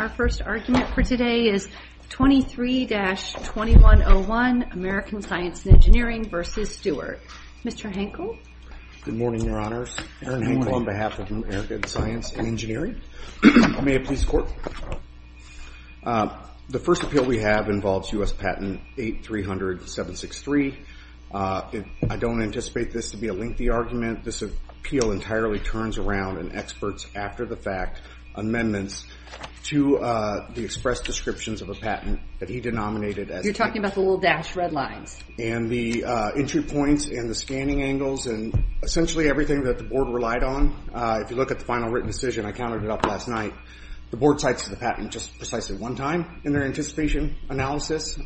Our first argument for today is 23-2101, American Science and Engineering v. Stewart. Mr. Henkel? Good morning, Your Honors. Erin Henkel on behalf of American Science and Engineering. May it please the Court. The first appeal we have involves U.S. Patent 8-300-763. I don't anticipate this to be a lengthy argument. This appeal entirely turns around an expert's after-the-fact amendments to the express descriptions of a patent that he denominated as a patent. You're talking about the little dashed red lines. And the entry points and the scanning angles and essentially everything that the Board relied on. If you look at the final written decision, I counted it up last night, the Board cites the patent just precisely one time in their anticipation analysis.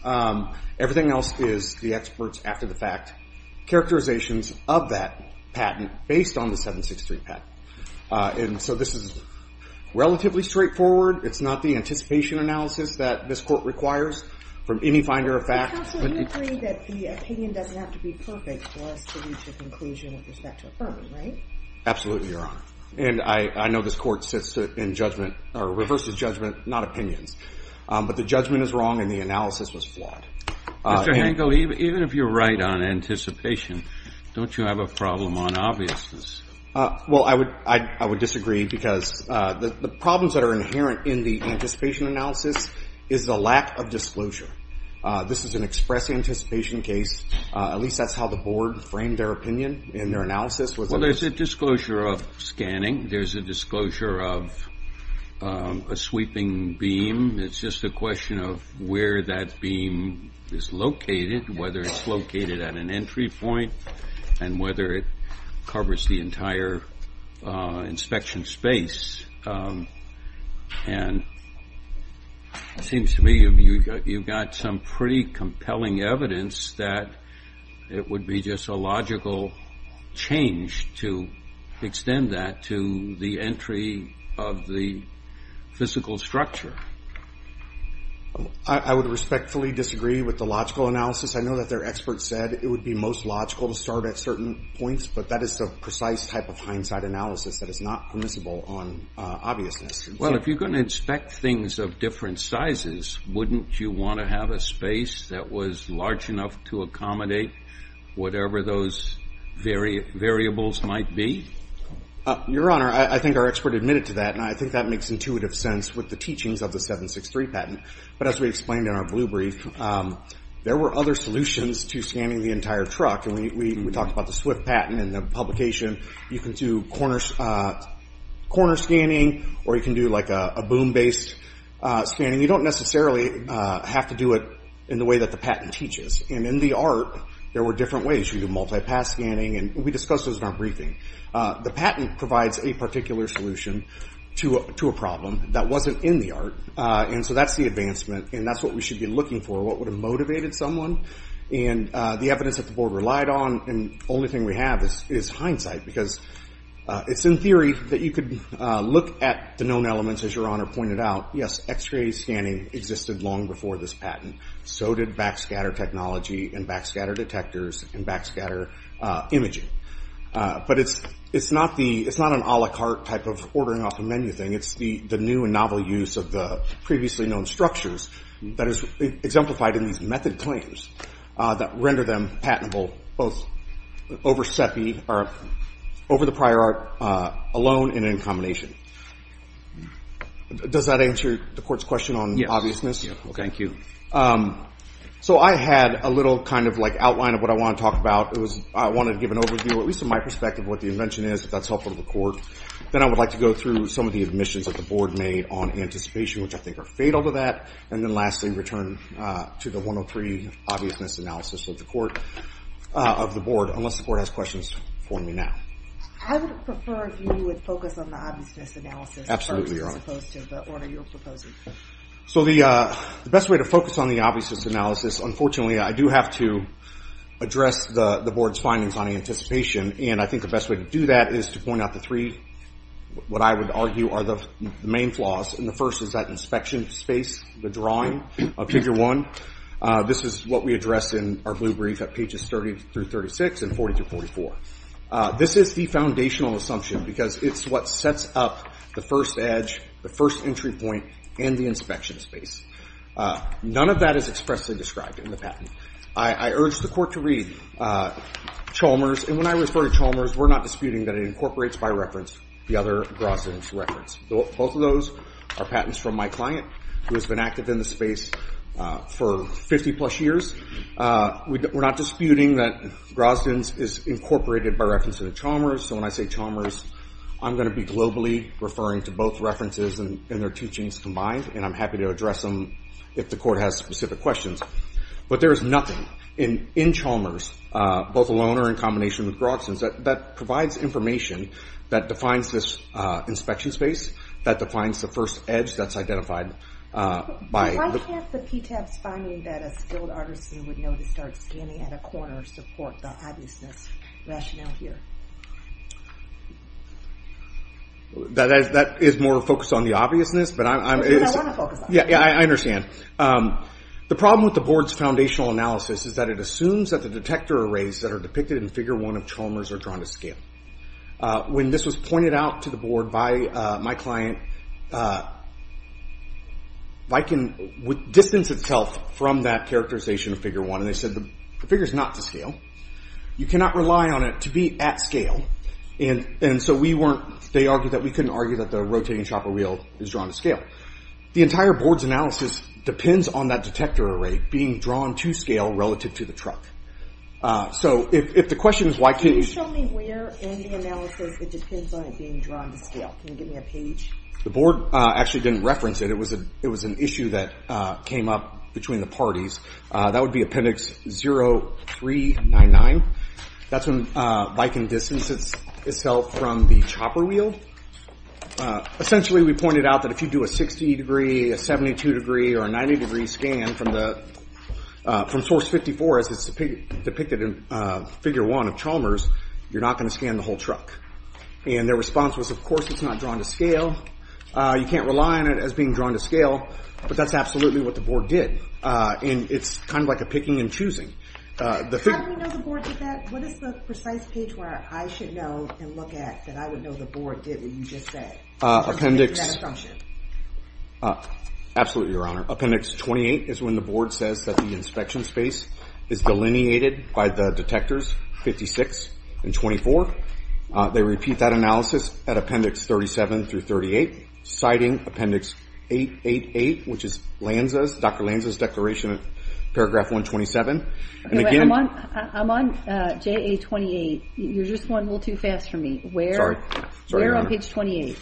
Everything else is the expert's after-the-fact characterizations of that patent based on the 763 patent. And so this is relatively straightforward. It's not the anticipation analysis that this Court requires from any finder of fact. Counsel, you agree that the opinion doesn't have to be perfect for us to reach a conclusion with respect to a firm, right? Absolutely, Your Honor. And I know this Court sits in judgment or reverses judgment, not opinions. But the judgment is wrong and the analysis was flawed. Mr. Hangel, even if you're right on anticipation, don't you have a problem on obviousness? Well, I would disagree because the problems that are inherent in the anticipation analysis is the lack of disclosure. This is an express anticipation case. At least that's how the Board framed their opinion in their analysis. Well, there's a disclosure of scanning. There's a disclosure of a sweeping beam. It's just a question of where that beam is located, whether it's located at an entry point, and whether it covers the entire inspection space. And it seems to me you've got some pretty compelling evidence that it would be just a logical change to extend that to the entry of the physical structure. I would respectfully disagree with the logical analysis. I know that their experts said it would be most logical to start at certain points. But that is the precise type of hindsight analysis that is not permissible on obviousness. Well, if you're going to inspect things of different sizes, wouldn't you want to have a space that was large enough to accommodate whatever those variables might be? Your Honor, I think our expert admitted to that, and I think that makes intuitive sense with the teachings of the 763 patent. But as we explained in our blue brief, there were other solutions to scanning the entire truck. And we talked about the Swift patent and the publication. You can do corner scanning, or you can do like a boom-based scanning. And you don't necessarily have to do it in the way that the patent teaches. And in the art, there were different ways. You can do multi-pass scanning, and we discussed those in our briefing. The patent provides a particular solution to a problem that wasn't in the art. And so that's the advancement, and that's what we should be looking for, what would have motivated someone. And the evidence that the board relied on, and the only thing we have is hindsight. Because it's in theory that you could look at the known elements, as Your Honor pointed out, yes, x-ray scanning existed long before this patent. So did backscatter technology, and backscatter detectors, and backscatter imaging. But it's not an a la carte type of ordering off the menu thing. It's the new and novel use of the previously known structures that is exemplified in these method claims that render them patentable, both over the prior art alone and in combination. Does that answer the court's question on obviousness? Thank you. So I had a little kind of like outline of what I want to talk about. I wanted to give an overview, at least from my perspective, of what the invention is, if that's helpful to the court. Then I would like to go through some of the admissions that the board made on anticipation, which I think are fatal to that. And then lastly, return to the 103 obviousness analysis of the board, unless the court has questions for me now. I would prefer if you would focus on the obviousness analysis first, as opposed to the order you're proposing. So the best way to focus on the obviousness analysis, unfortunately, I do have to address the board's findings on anticipation. And I think the best way to do that is to point out the three, what I would argue are the main flaws. And the first is that inspection space, the drawing of Figure 1. This is what we address in our blue brief at pages 30 through 36 and 40 through 44. This is the foundational assumption, because it's what sets up the first edge, the first entry point, and the inspection space. None of that is expressly described in the patent. I urge the court to read Chalmers. And when I refer to Chalmers, we're not disputing that it incorporates by reference the other Grosvenor's reference. Both of those are patents from my client, who has been active in the space for 50-plus years. We're not disputing that Grosvenor's is incorporated by reference to the Chalmers. So when I say Chalmers, I'm going to be globally referring to both references and their teachings combined. And I'm happy to address them if the court has specific questions. But there is nothing in Chalmers, both alone or in combination with Grosvenor's, that provides information that defines this inspection space, that defines the first edge that's identified by the… We would know to start scanning at a corner to support the obviousness rationale here. That is more focused on the obviousness, but I'm… It's what I want to focus on. Yeah, I understand. The problem with the board's foundational analysis is that it assumes that the detector arrays that are depicted in Figure 1 of Chalmers are drawn to scale. When this was pointed out to the board by my client, distance itself from that characterization of Figure 1, and they said, the figure's not to scale. You cannot rely on it to be at scale. And so we weren't… They argued that we couldn't argue that the rotating chopper wheel is drawn to scale. The entire board's analysis depends on that detector array being drawn to scale relative to the truck. So if the question is why can't you… Can you show me where in the analysis it depends on it being drawn to scale? Can you give me a page? The board actually didn't reference it. It was an issue that came up between the parties. That would be Appendix 0-3-9-9. That's when bike and distance itself from the chopper wheel. Essentially, we pointed out that if you do a 60 degree, a 72 degree, or a 90 degree scan from the… From Source 54, as it's depicted in Figure 1 of Chalmers, you're not going to scan the whole truck. And their response was, of course, it's not drawn to scale. You can't rely on it as being drawn to scale, but that's absolutely what the board did. And it's kind of like a picking and choosing. How do we know the board did that? What is the precise page where I should know and look at that I would know the board did what you just said? Appendix… Absolutely, Your Honor. Appendix 28 is when the board says that the inspection space is delineated by the detectors 56 and 24. They repeat that analysis at Appendix 37 through 38, citing Appendix 888, which is Lanza's, Dr. Lanza's declaration in Paragraph 127. I'm on JA 28. You're just one little too fast for me. Sorry, Your Honor. Where on page 28?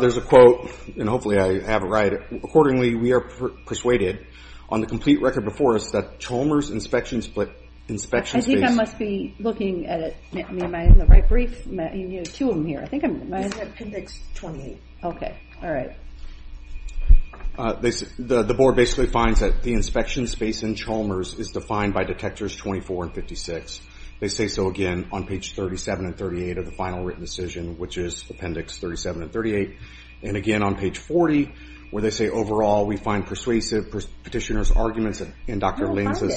There's a quote, and hopefully I have it right. Accordingly, we are persuaded on the complete record before us that Chalmers inspection space… I think I must be looking at it. Am I in the right brief? You have two of them here. I think I'm… It's at Appendix 28. Okay. All right. The board basically finds that the inspection space in Chalmers is defined by detectors 24 and 56. They say so again on page 37 and 38 of the final written decision, which is Appendix 37 and 38. And again on page 40, where they say, overall, we find persuasive petitioner's arguments and Dr. Lanza's…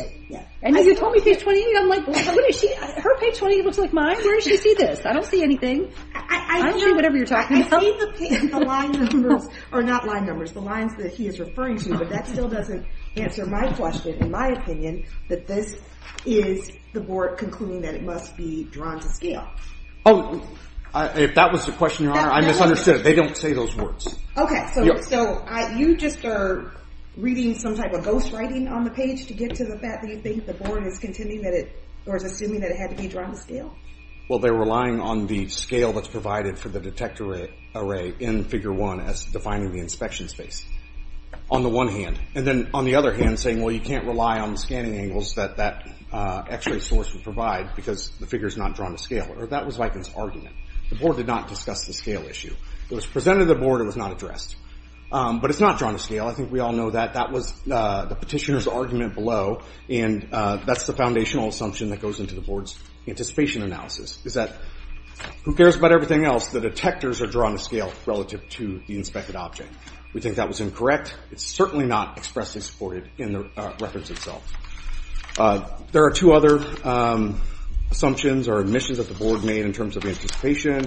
And you told me page 28. I'm like, what is she… Her page 28 looks like mine. Where does she see this? I don't see anything. I don't see whatever you're talking about. The way the line numbers… Or not line numbers. The lines that he is referring to. But that still doesn't answer my question, in my opinion, that this is the board concluding that it must be drawn to scale. Oh. If that was the question, Your Honor, I misunderstood it. They don't say those words. Okay. So you just are reading some type of ghost writing on the page to get to the fact that you think the board is contending that it… Or is assuming that it had to be drawn to scale? Well, they're relying on the scale that's provided for the detector array in figure one as defining the inspection space, on the one hand. And then, on the other hand, saying, well, you can't rely on the scanning angles that that X-ray source would provide because the figure is not drawn to scale. Or that was Vikan's argument. The board did not discuss the scale issue. It was presented to the board. It was not addressed. But it's not drawn to scale. I think we all know that. That was the petitioner's argument below. And that's the foundational assumption that goes into the board's anticipation analysis, is that who cares about everything else? The detectors are drawn to scale relative to the inspected object. We think that was incorrect. It's certainly not expressly supported in the records itself. There are two other assumptions or admissions that the board made in terms of anticipation.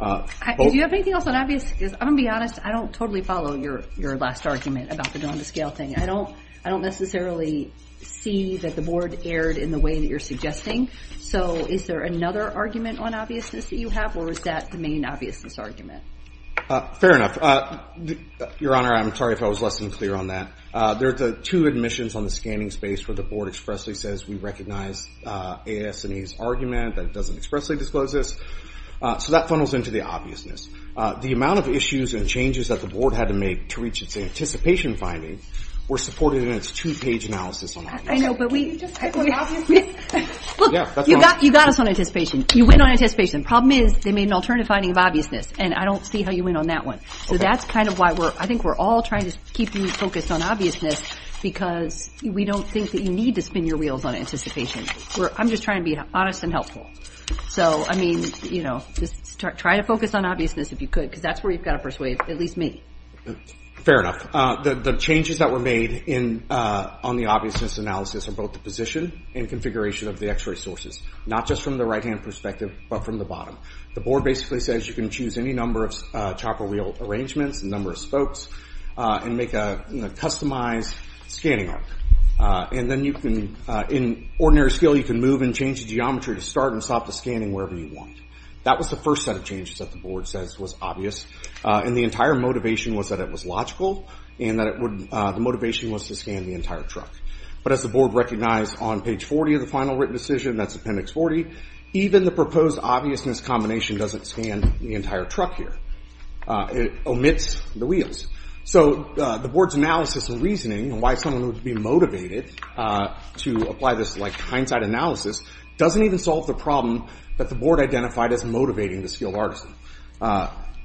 Do you have anything else that obvious? Because I'm going to be honest. I don't totally follow your last argument about the drawn to scale thing. I don't necessarily see that the board erred in the way that you're suggesting. So is there another argument on obviousness that you have? Or is that the main obviousness argument? Fair enough. Your Honor, I'm sorry if I was less than clear on that. There are two admissions on the scanning space where the board expressly says we recognize A.S. and E.'s argument, but it doesn't expressly disclose this. So that funnels into the obviousness. The amount of issues and changes that the board had to make to reach its anticipation finding were supported in its two-page analysis on obviousness. I know, but we just talked about obviousness. Look, you got us on anticipation. You went on anticipation. Problem is they made an alternative finding of obviousness, and I don't see how you went on that one. So that's kind of why I think we're all trying to keep you focused on obviousness because we don't think that you need to spin your wheels on anticipation. I'm just trying to be honest and helpful. So, I mean, just try to focus on obviousness if you could because that's where you've got to persuade at least me. Fair enough. The changes that were made on the obviousness analysis are both the position and configuration of the X-ray sources, not just from the right-hand perspective but from the bottom. The board basically says you can choose any number of chopper wheel arrangements, the number of spokes, and make a customized scanning arc. And then you can, in ordinary skill, you can move and change the geometry to start and stop the scanning wherever you want. That was the first set of changes that the board says was obvious, and the entire motivation was that it was logical and that the motivation was to scan the entire truck. But as the board recognized on page 40 of the final written decision, that's Appendix 40, even the proposed obviousness combination doesn't scan the entire truck here. It omits the wheels. So the board's analysis and reasoning and why someone would be motivated to apply this hindsight analysis doesn't even solve the problem that the board identified as motivating the skilled artisan.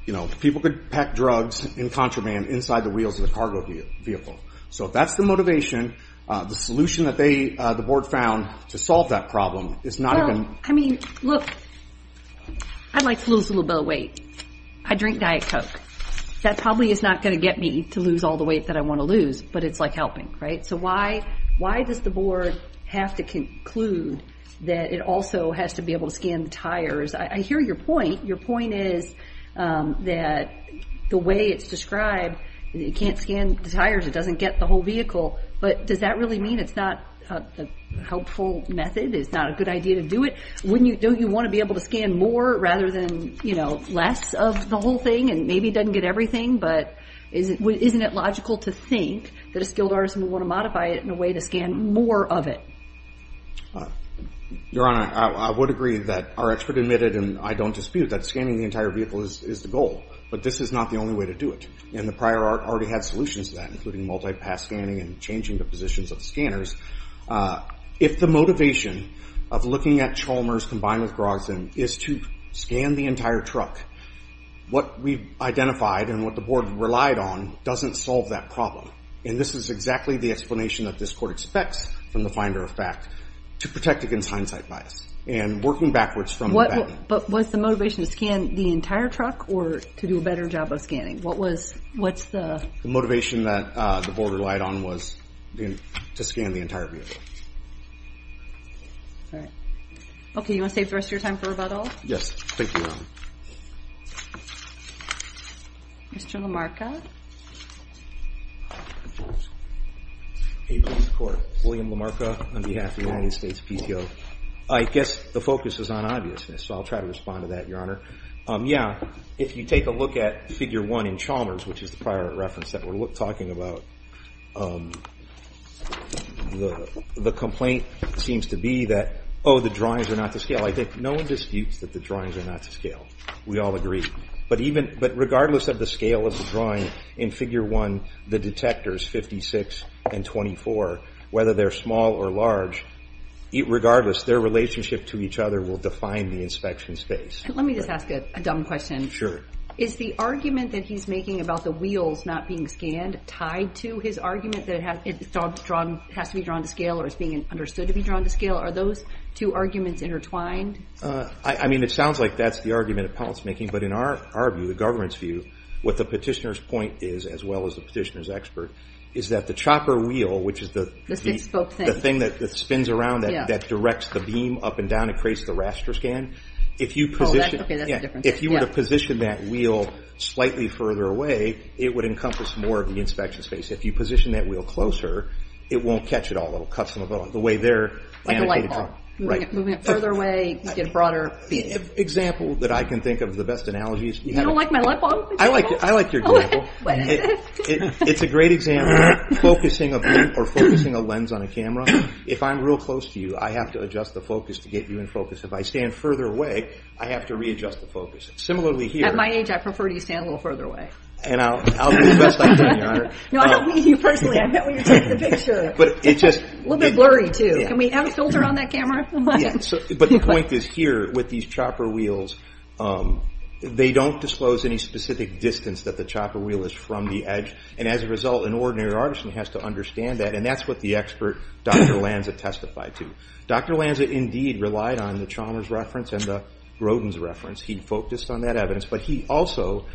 You know, people could pack drugs in contraband inside the wheels of the cargo vehicle. So if that's the motivation, the solution that the board found to solve that problem is not even— Well, I mean, look, I like to lose a little bit of weight. I drink Diet Coke. That probably is not going to get me to lose all the weight that I want to lose, but it's like helping, right? So why does the board have to conclude that it also has to be able to scan the tires? I hear your point. Your point is that the way it's described, you can't scan the tires. It doesn't get the whole vehicle. But does that really mean it's not a helpful method? It's not a good idea to do it? Don't you want to be able to scan more rather than, you know, less of the whole thing and maybe it doesn't get everything? But isn't it logical to think that a skilled artisan would want to modify it in a way to scan more of it? Your Honor, I would agree that our expert admitted, and I don't dispute, that scanning the entire vehicle is the goal. But this is not the only way to do it, and the prior art already had solutions to that, including multi-pass scanning and changing the positions of the scanners. If the motivation of looking at Chalmers combined with Grogson is to scan the entire truck, what we've identified and what the board relied on doesn't solve that problem. And this is exactly the explanation that this court expects from the finder of fact to protect against hindsight bias and working backwards from that. But was the motivation to scan the entire truck or to do a better job of scanning? The motivation that the board relied on was to scan the entire vehicle. All right. Okay, you want to save the rest of your time for rebuttal? Yes, thank you, Your Honor. Mr. LaMarca? Hey, please record. William LaMarca on behalf of the United States PTO. I guess the focus is on obviousness, so I'll try to respond to that, Your Honor. Yeah, if you take a look at Figure 1 in Chalmers, which is the prior art reference that we're talking about, the complaint seems to be that, oh, the drawings are not to scale. I think no one disputes that the drawings are not to scale. We all agree. But regardless of the scale of the drawing in Figure 1, the detectors, 56 and 24, whether they're small or large, regardless, their relationship to each other will define the inspection space. Let me just ask a dumb question. Is the argument that he's making about the wheels not being scanned tied to his argument that it has to be drawn to scale or is being understood to be drawn to scale? Are those two arguments intertwined? I mean, it sounds like that's the argument appellants are making, but in our view, the government's view, what the petitioner's point is, as well as the petitioner's expert, is that the chopper wheel, which is the thing that spins around that directs the beam up and down and creates the raster scan, if you were to position that wheel slightly further away, it would encompass more of the inspection space. If you position that wheel closer, it won't catch it all. It'll cut some of the way there. Like a light bulb. Moving it further away, get it broader. The example that I can think of, the best analogy is... You don't like my light bulb? I like your example. It's a great example. Focusing a beam or focusing a lens on a camera, if I'm real close to you, I have to adjust the focus to get you in focus. If I stand further away, I have to readjust the focus. Similarly here... At my age, I prefer to stand a little further away. And I'll do the best I can, Your Honor. No, I don't mean you personally. I meant when you took the picture. It's just... A little bit blurry, too. Can we have a filter on that camera? But the point is here, with these chopper wheels, they don't disclose any specific distance that the chopper wheel is from the edge, and as a result, an ordinary artisan has to understand that, and that's what the expert, Dr. Lanza, testified to. Dr. Lanza, indeed, relied on the Chalmers reference and the Grodin's reference. He focused on that evidence, but he also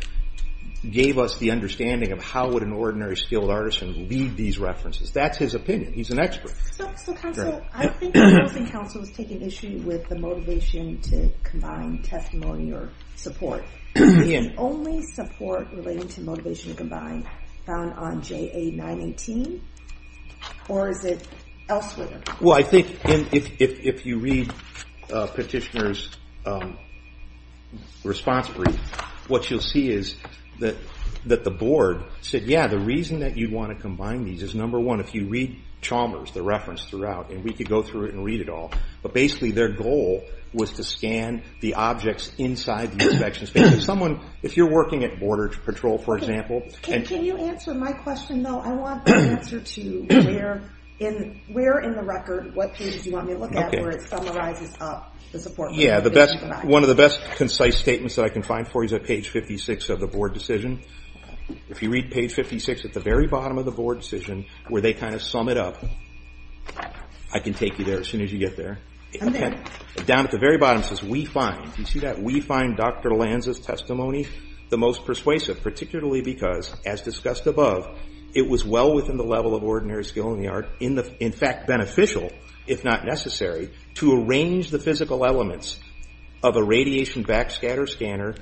gave us the understanding of how would an ordinary skilled artisan read these references. That's his opinion. He's an expert. So, counsel, I don't think counsel is taking issue with the motivation to combine testimony or support. Is only support related to motivation to combine found on JA 918, or is it elsewhere? Well, I think if you read Petitioner's response brief, what you'll see is that the board said, yeah, the reason that you'd want to combine these is, number one, if you read Chalmers, the reference throughout, and we could go through it and read it all, but basically their goal was to scan the objects inside the inspection space. Someone, if you're working at Border Patrol, for example... Can you answer my question, though? I want the answer to where in the record, what pages do you want me to look at where it summarizes up the support? Yeah, one of the best concise statements that I can find for you is at page 56 of the board decision. If you read page 56 at the very bottom of the board decision, where they kind of sum it up, I can take you there as soon as you get there. Down at the very bottom it says, we find. Do you see that? We find Dr. Lanza's testimony the most persuasive, particularly because, as discussed above, it was well within the level of ordinary skill in the art, in fact beneficial, if not necessary, to arrange the physical elements of a radiation backscatter scanner,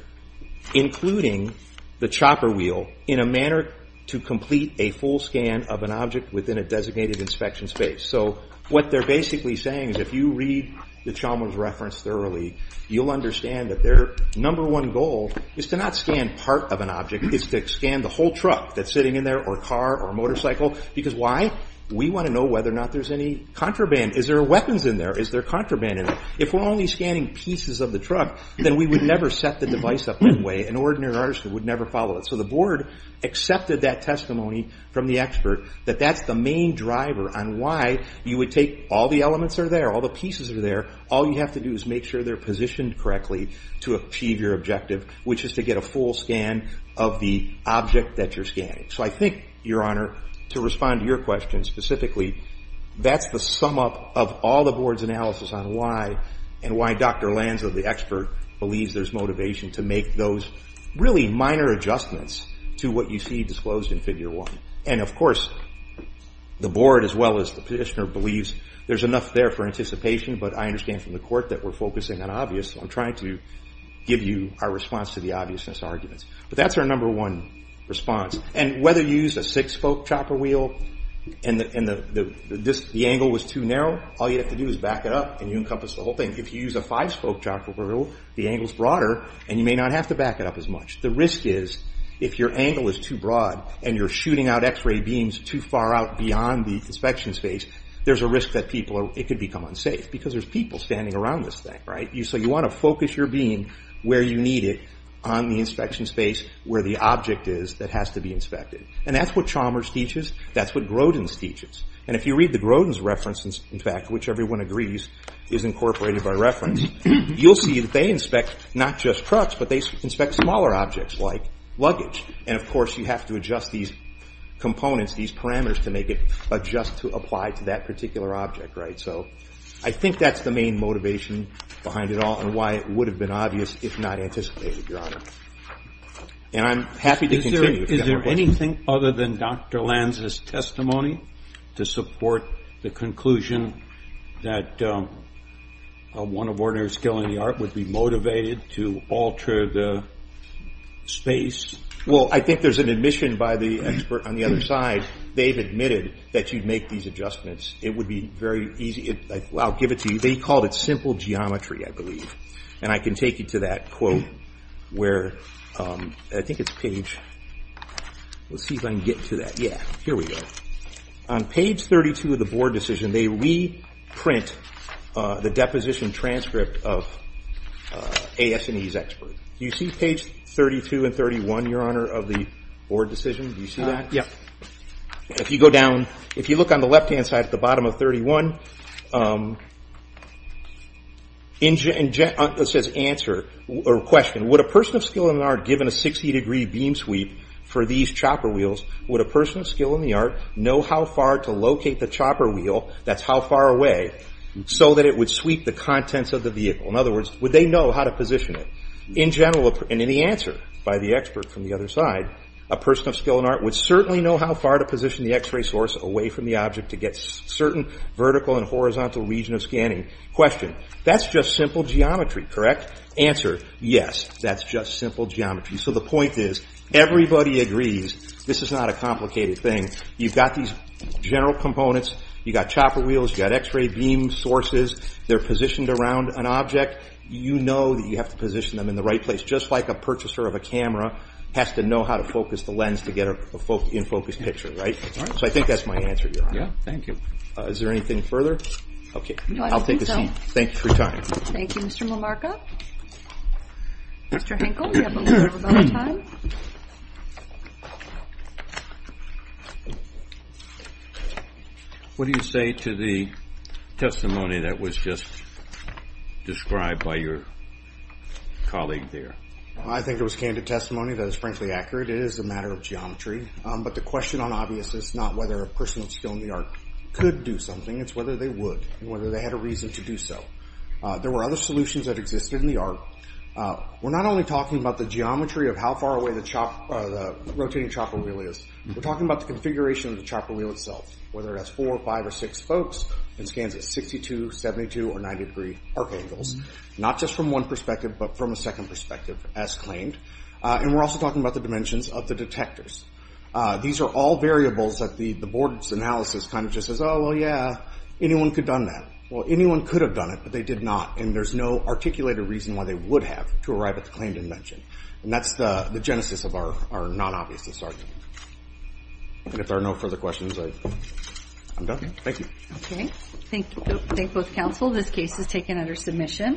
including the chopper wheel, in a manner to complete a full scan of an object within a designated inspection space. So what they're basically saying is if you read the Chalmers reference thoroughly, you'll understand that their number one goal is to not scan part of an object. It's to scan the whole truck that's sitting in there, or car, or motorcycle. Because why? We want to know whether or not there's any contraband. Is there weapons in there? Is there contraband in there? If we're only scanning pieces of the truck, then we would never set the device up that way. An ordinary artist would never follow it. So the board accepted that testimony from the expert, that that's the main driver on why you would take all the elements are there, all the pieces are there, all you have to do is make sure they're positioned correctly to achieve your objective, which is to get a full scan of the object that you're scanning. So I think, Your Honor, to respond to your question specifically, that's the sum up of all the board's analysis on why and why Dr. Lanza, the expert, believes there's motivation to make those really minor adjustments to what you see disclosed in Figure 1. And of course, the board as well as the petitioner believes there's enough there for anticipation, but I understand from the court that we're focusing on obvious, so I'm trying to give you our response to the obviousness arguments. But that's our number one response. And whether you use a six-spoke chopper wheel and the angle was too narrow, all you have to do is back it up and you encompass the whole thing. If you use a five-spoke chopper wheel, the angle's broader and you may not have to back it up as much. The risk is, if your angle is too broad and you're shooting out X-ray beams too far out beyond the inspection space, there's a risk that it could become unsafe because there's people standing around this thing, right? So you want to focus your beam where you need it on the inspection space, where the object is that has to be inspected. And that's what Chalmers teaches, that's what Grodin teaches. And if you read the Grodin's reference, in fact, which everyone agrees is incorporated by reference, you'll see that they inspect not just trucks, but they inspect smaller objects like luggage. And, of course, you have to adjust these components, these parameters to make it adjust to apply to that particular object, right? So I think that's the main motivation behind it all and why it would have been obvious if not anticipated, Your Honor. And I'm happy to continue. Is there anything other than Dr. Lanz's testimony to support the conclusion that one of ordinary skill in the art would be motivated to alter the space? Well, I think there's an admission by the expert on the other side. They've admitted that you'd make these adjustments. It would be very easy. I'll give it to you. They called it simple geometry, I believe. And I can take you to that quote where, I think it's page, let's see if I can get to that. Yeah, here we go. On page 32 of the board decision, they reprint the deposition transcript of AS&E's expert. Do you see page 32 and 31, Your Honor, of the board decision? Do you see that? Yep. If you go down, if you look on the left-hand side at the bottom of 31, it says answer or question. Would a person of skill in the art, given a 60-degree beam sweep for these chopper wheels, would a person of skill in the art know how far to locate the chopper wheel, that's how far away, so that it would sweep the contents of the vehicle? In other words, would they know how to position it? In general, and in the answer by the expert from the other side, a person of skill in the art would certainly know how far to position the X-ray source away from the object to get certain vertical and horizontal region of scanning. Question, that's just simple geometry, correct? Answer, yes, that's just simple geometry. So the point is everybody agrees this is not a complicated thing. You've got these general components. You've got chopper wheels. You've got X-ray beam sources. They're positioned around an object. You know that you have to position them in the right place, just like a purchaser of a camera has to know how to focus the lens to get an in-focus picture, right? So I think that's my answer, Your Honor. Yeah, thank you. Is there anything further? Okay, I'll take a seat. Thank you for your time. Thank you, Mr. Momarka. Mr. Henkel, you have a little bit of time. What do you say to the testimony that was just described by your colleague there? I think it was candid testimony. That is frankly accurate. It is a matter of geometry. But the question on obvious is not whether a person with skill in the art could do something. It's whether they would and whether they had a reason to do so. There were other solutions that existed in the art. We're not only talking about the geometry of how far away the rotating chopper wheel is. We're talking about the configuration of the chopper wheel itself, whether it has four or five or six spokes and scans at 62, 72, or 90-degree arc angles, not just from one perspective, but from a second perspective, as claimed. And we're also talking about the dimensions of the detectors. These are all variables that the board's analysis kind of just says, oh, well, yeah, anyone could have done that. Well, anyone could have done it, but they did not, and there's no articulated reason why they would have to arrive at the claim dimension. And that's the genesis of our non-obviousness argument. And if there are no further questions, I'm done. Thank you. Okay. Thank both counsel. This case is taken under submission.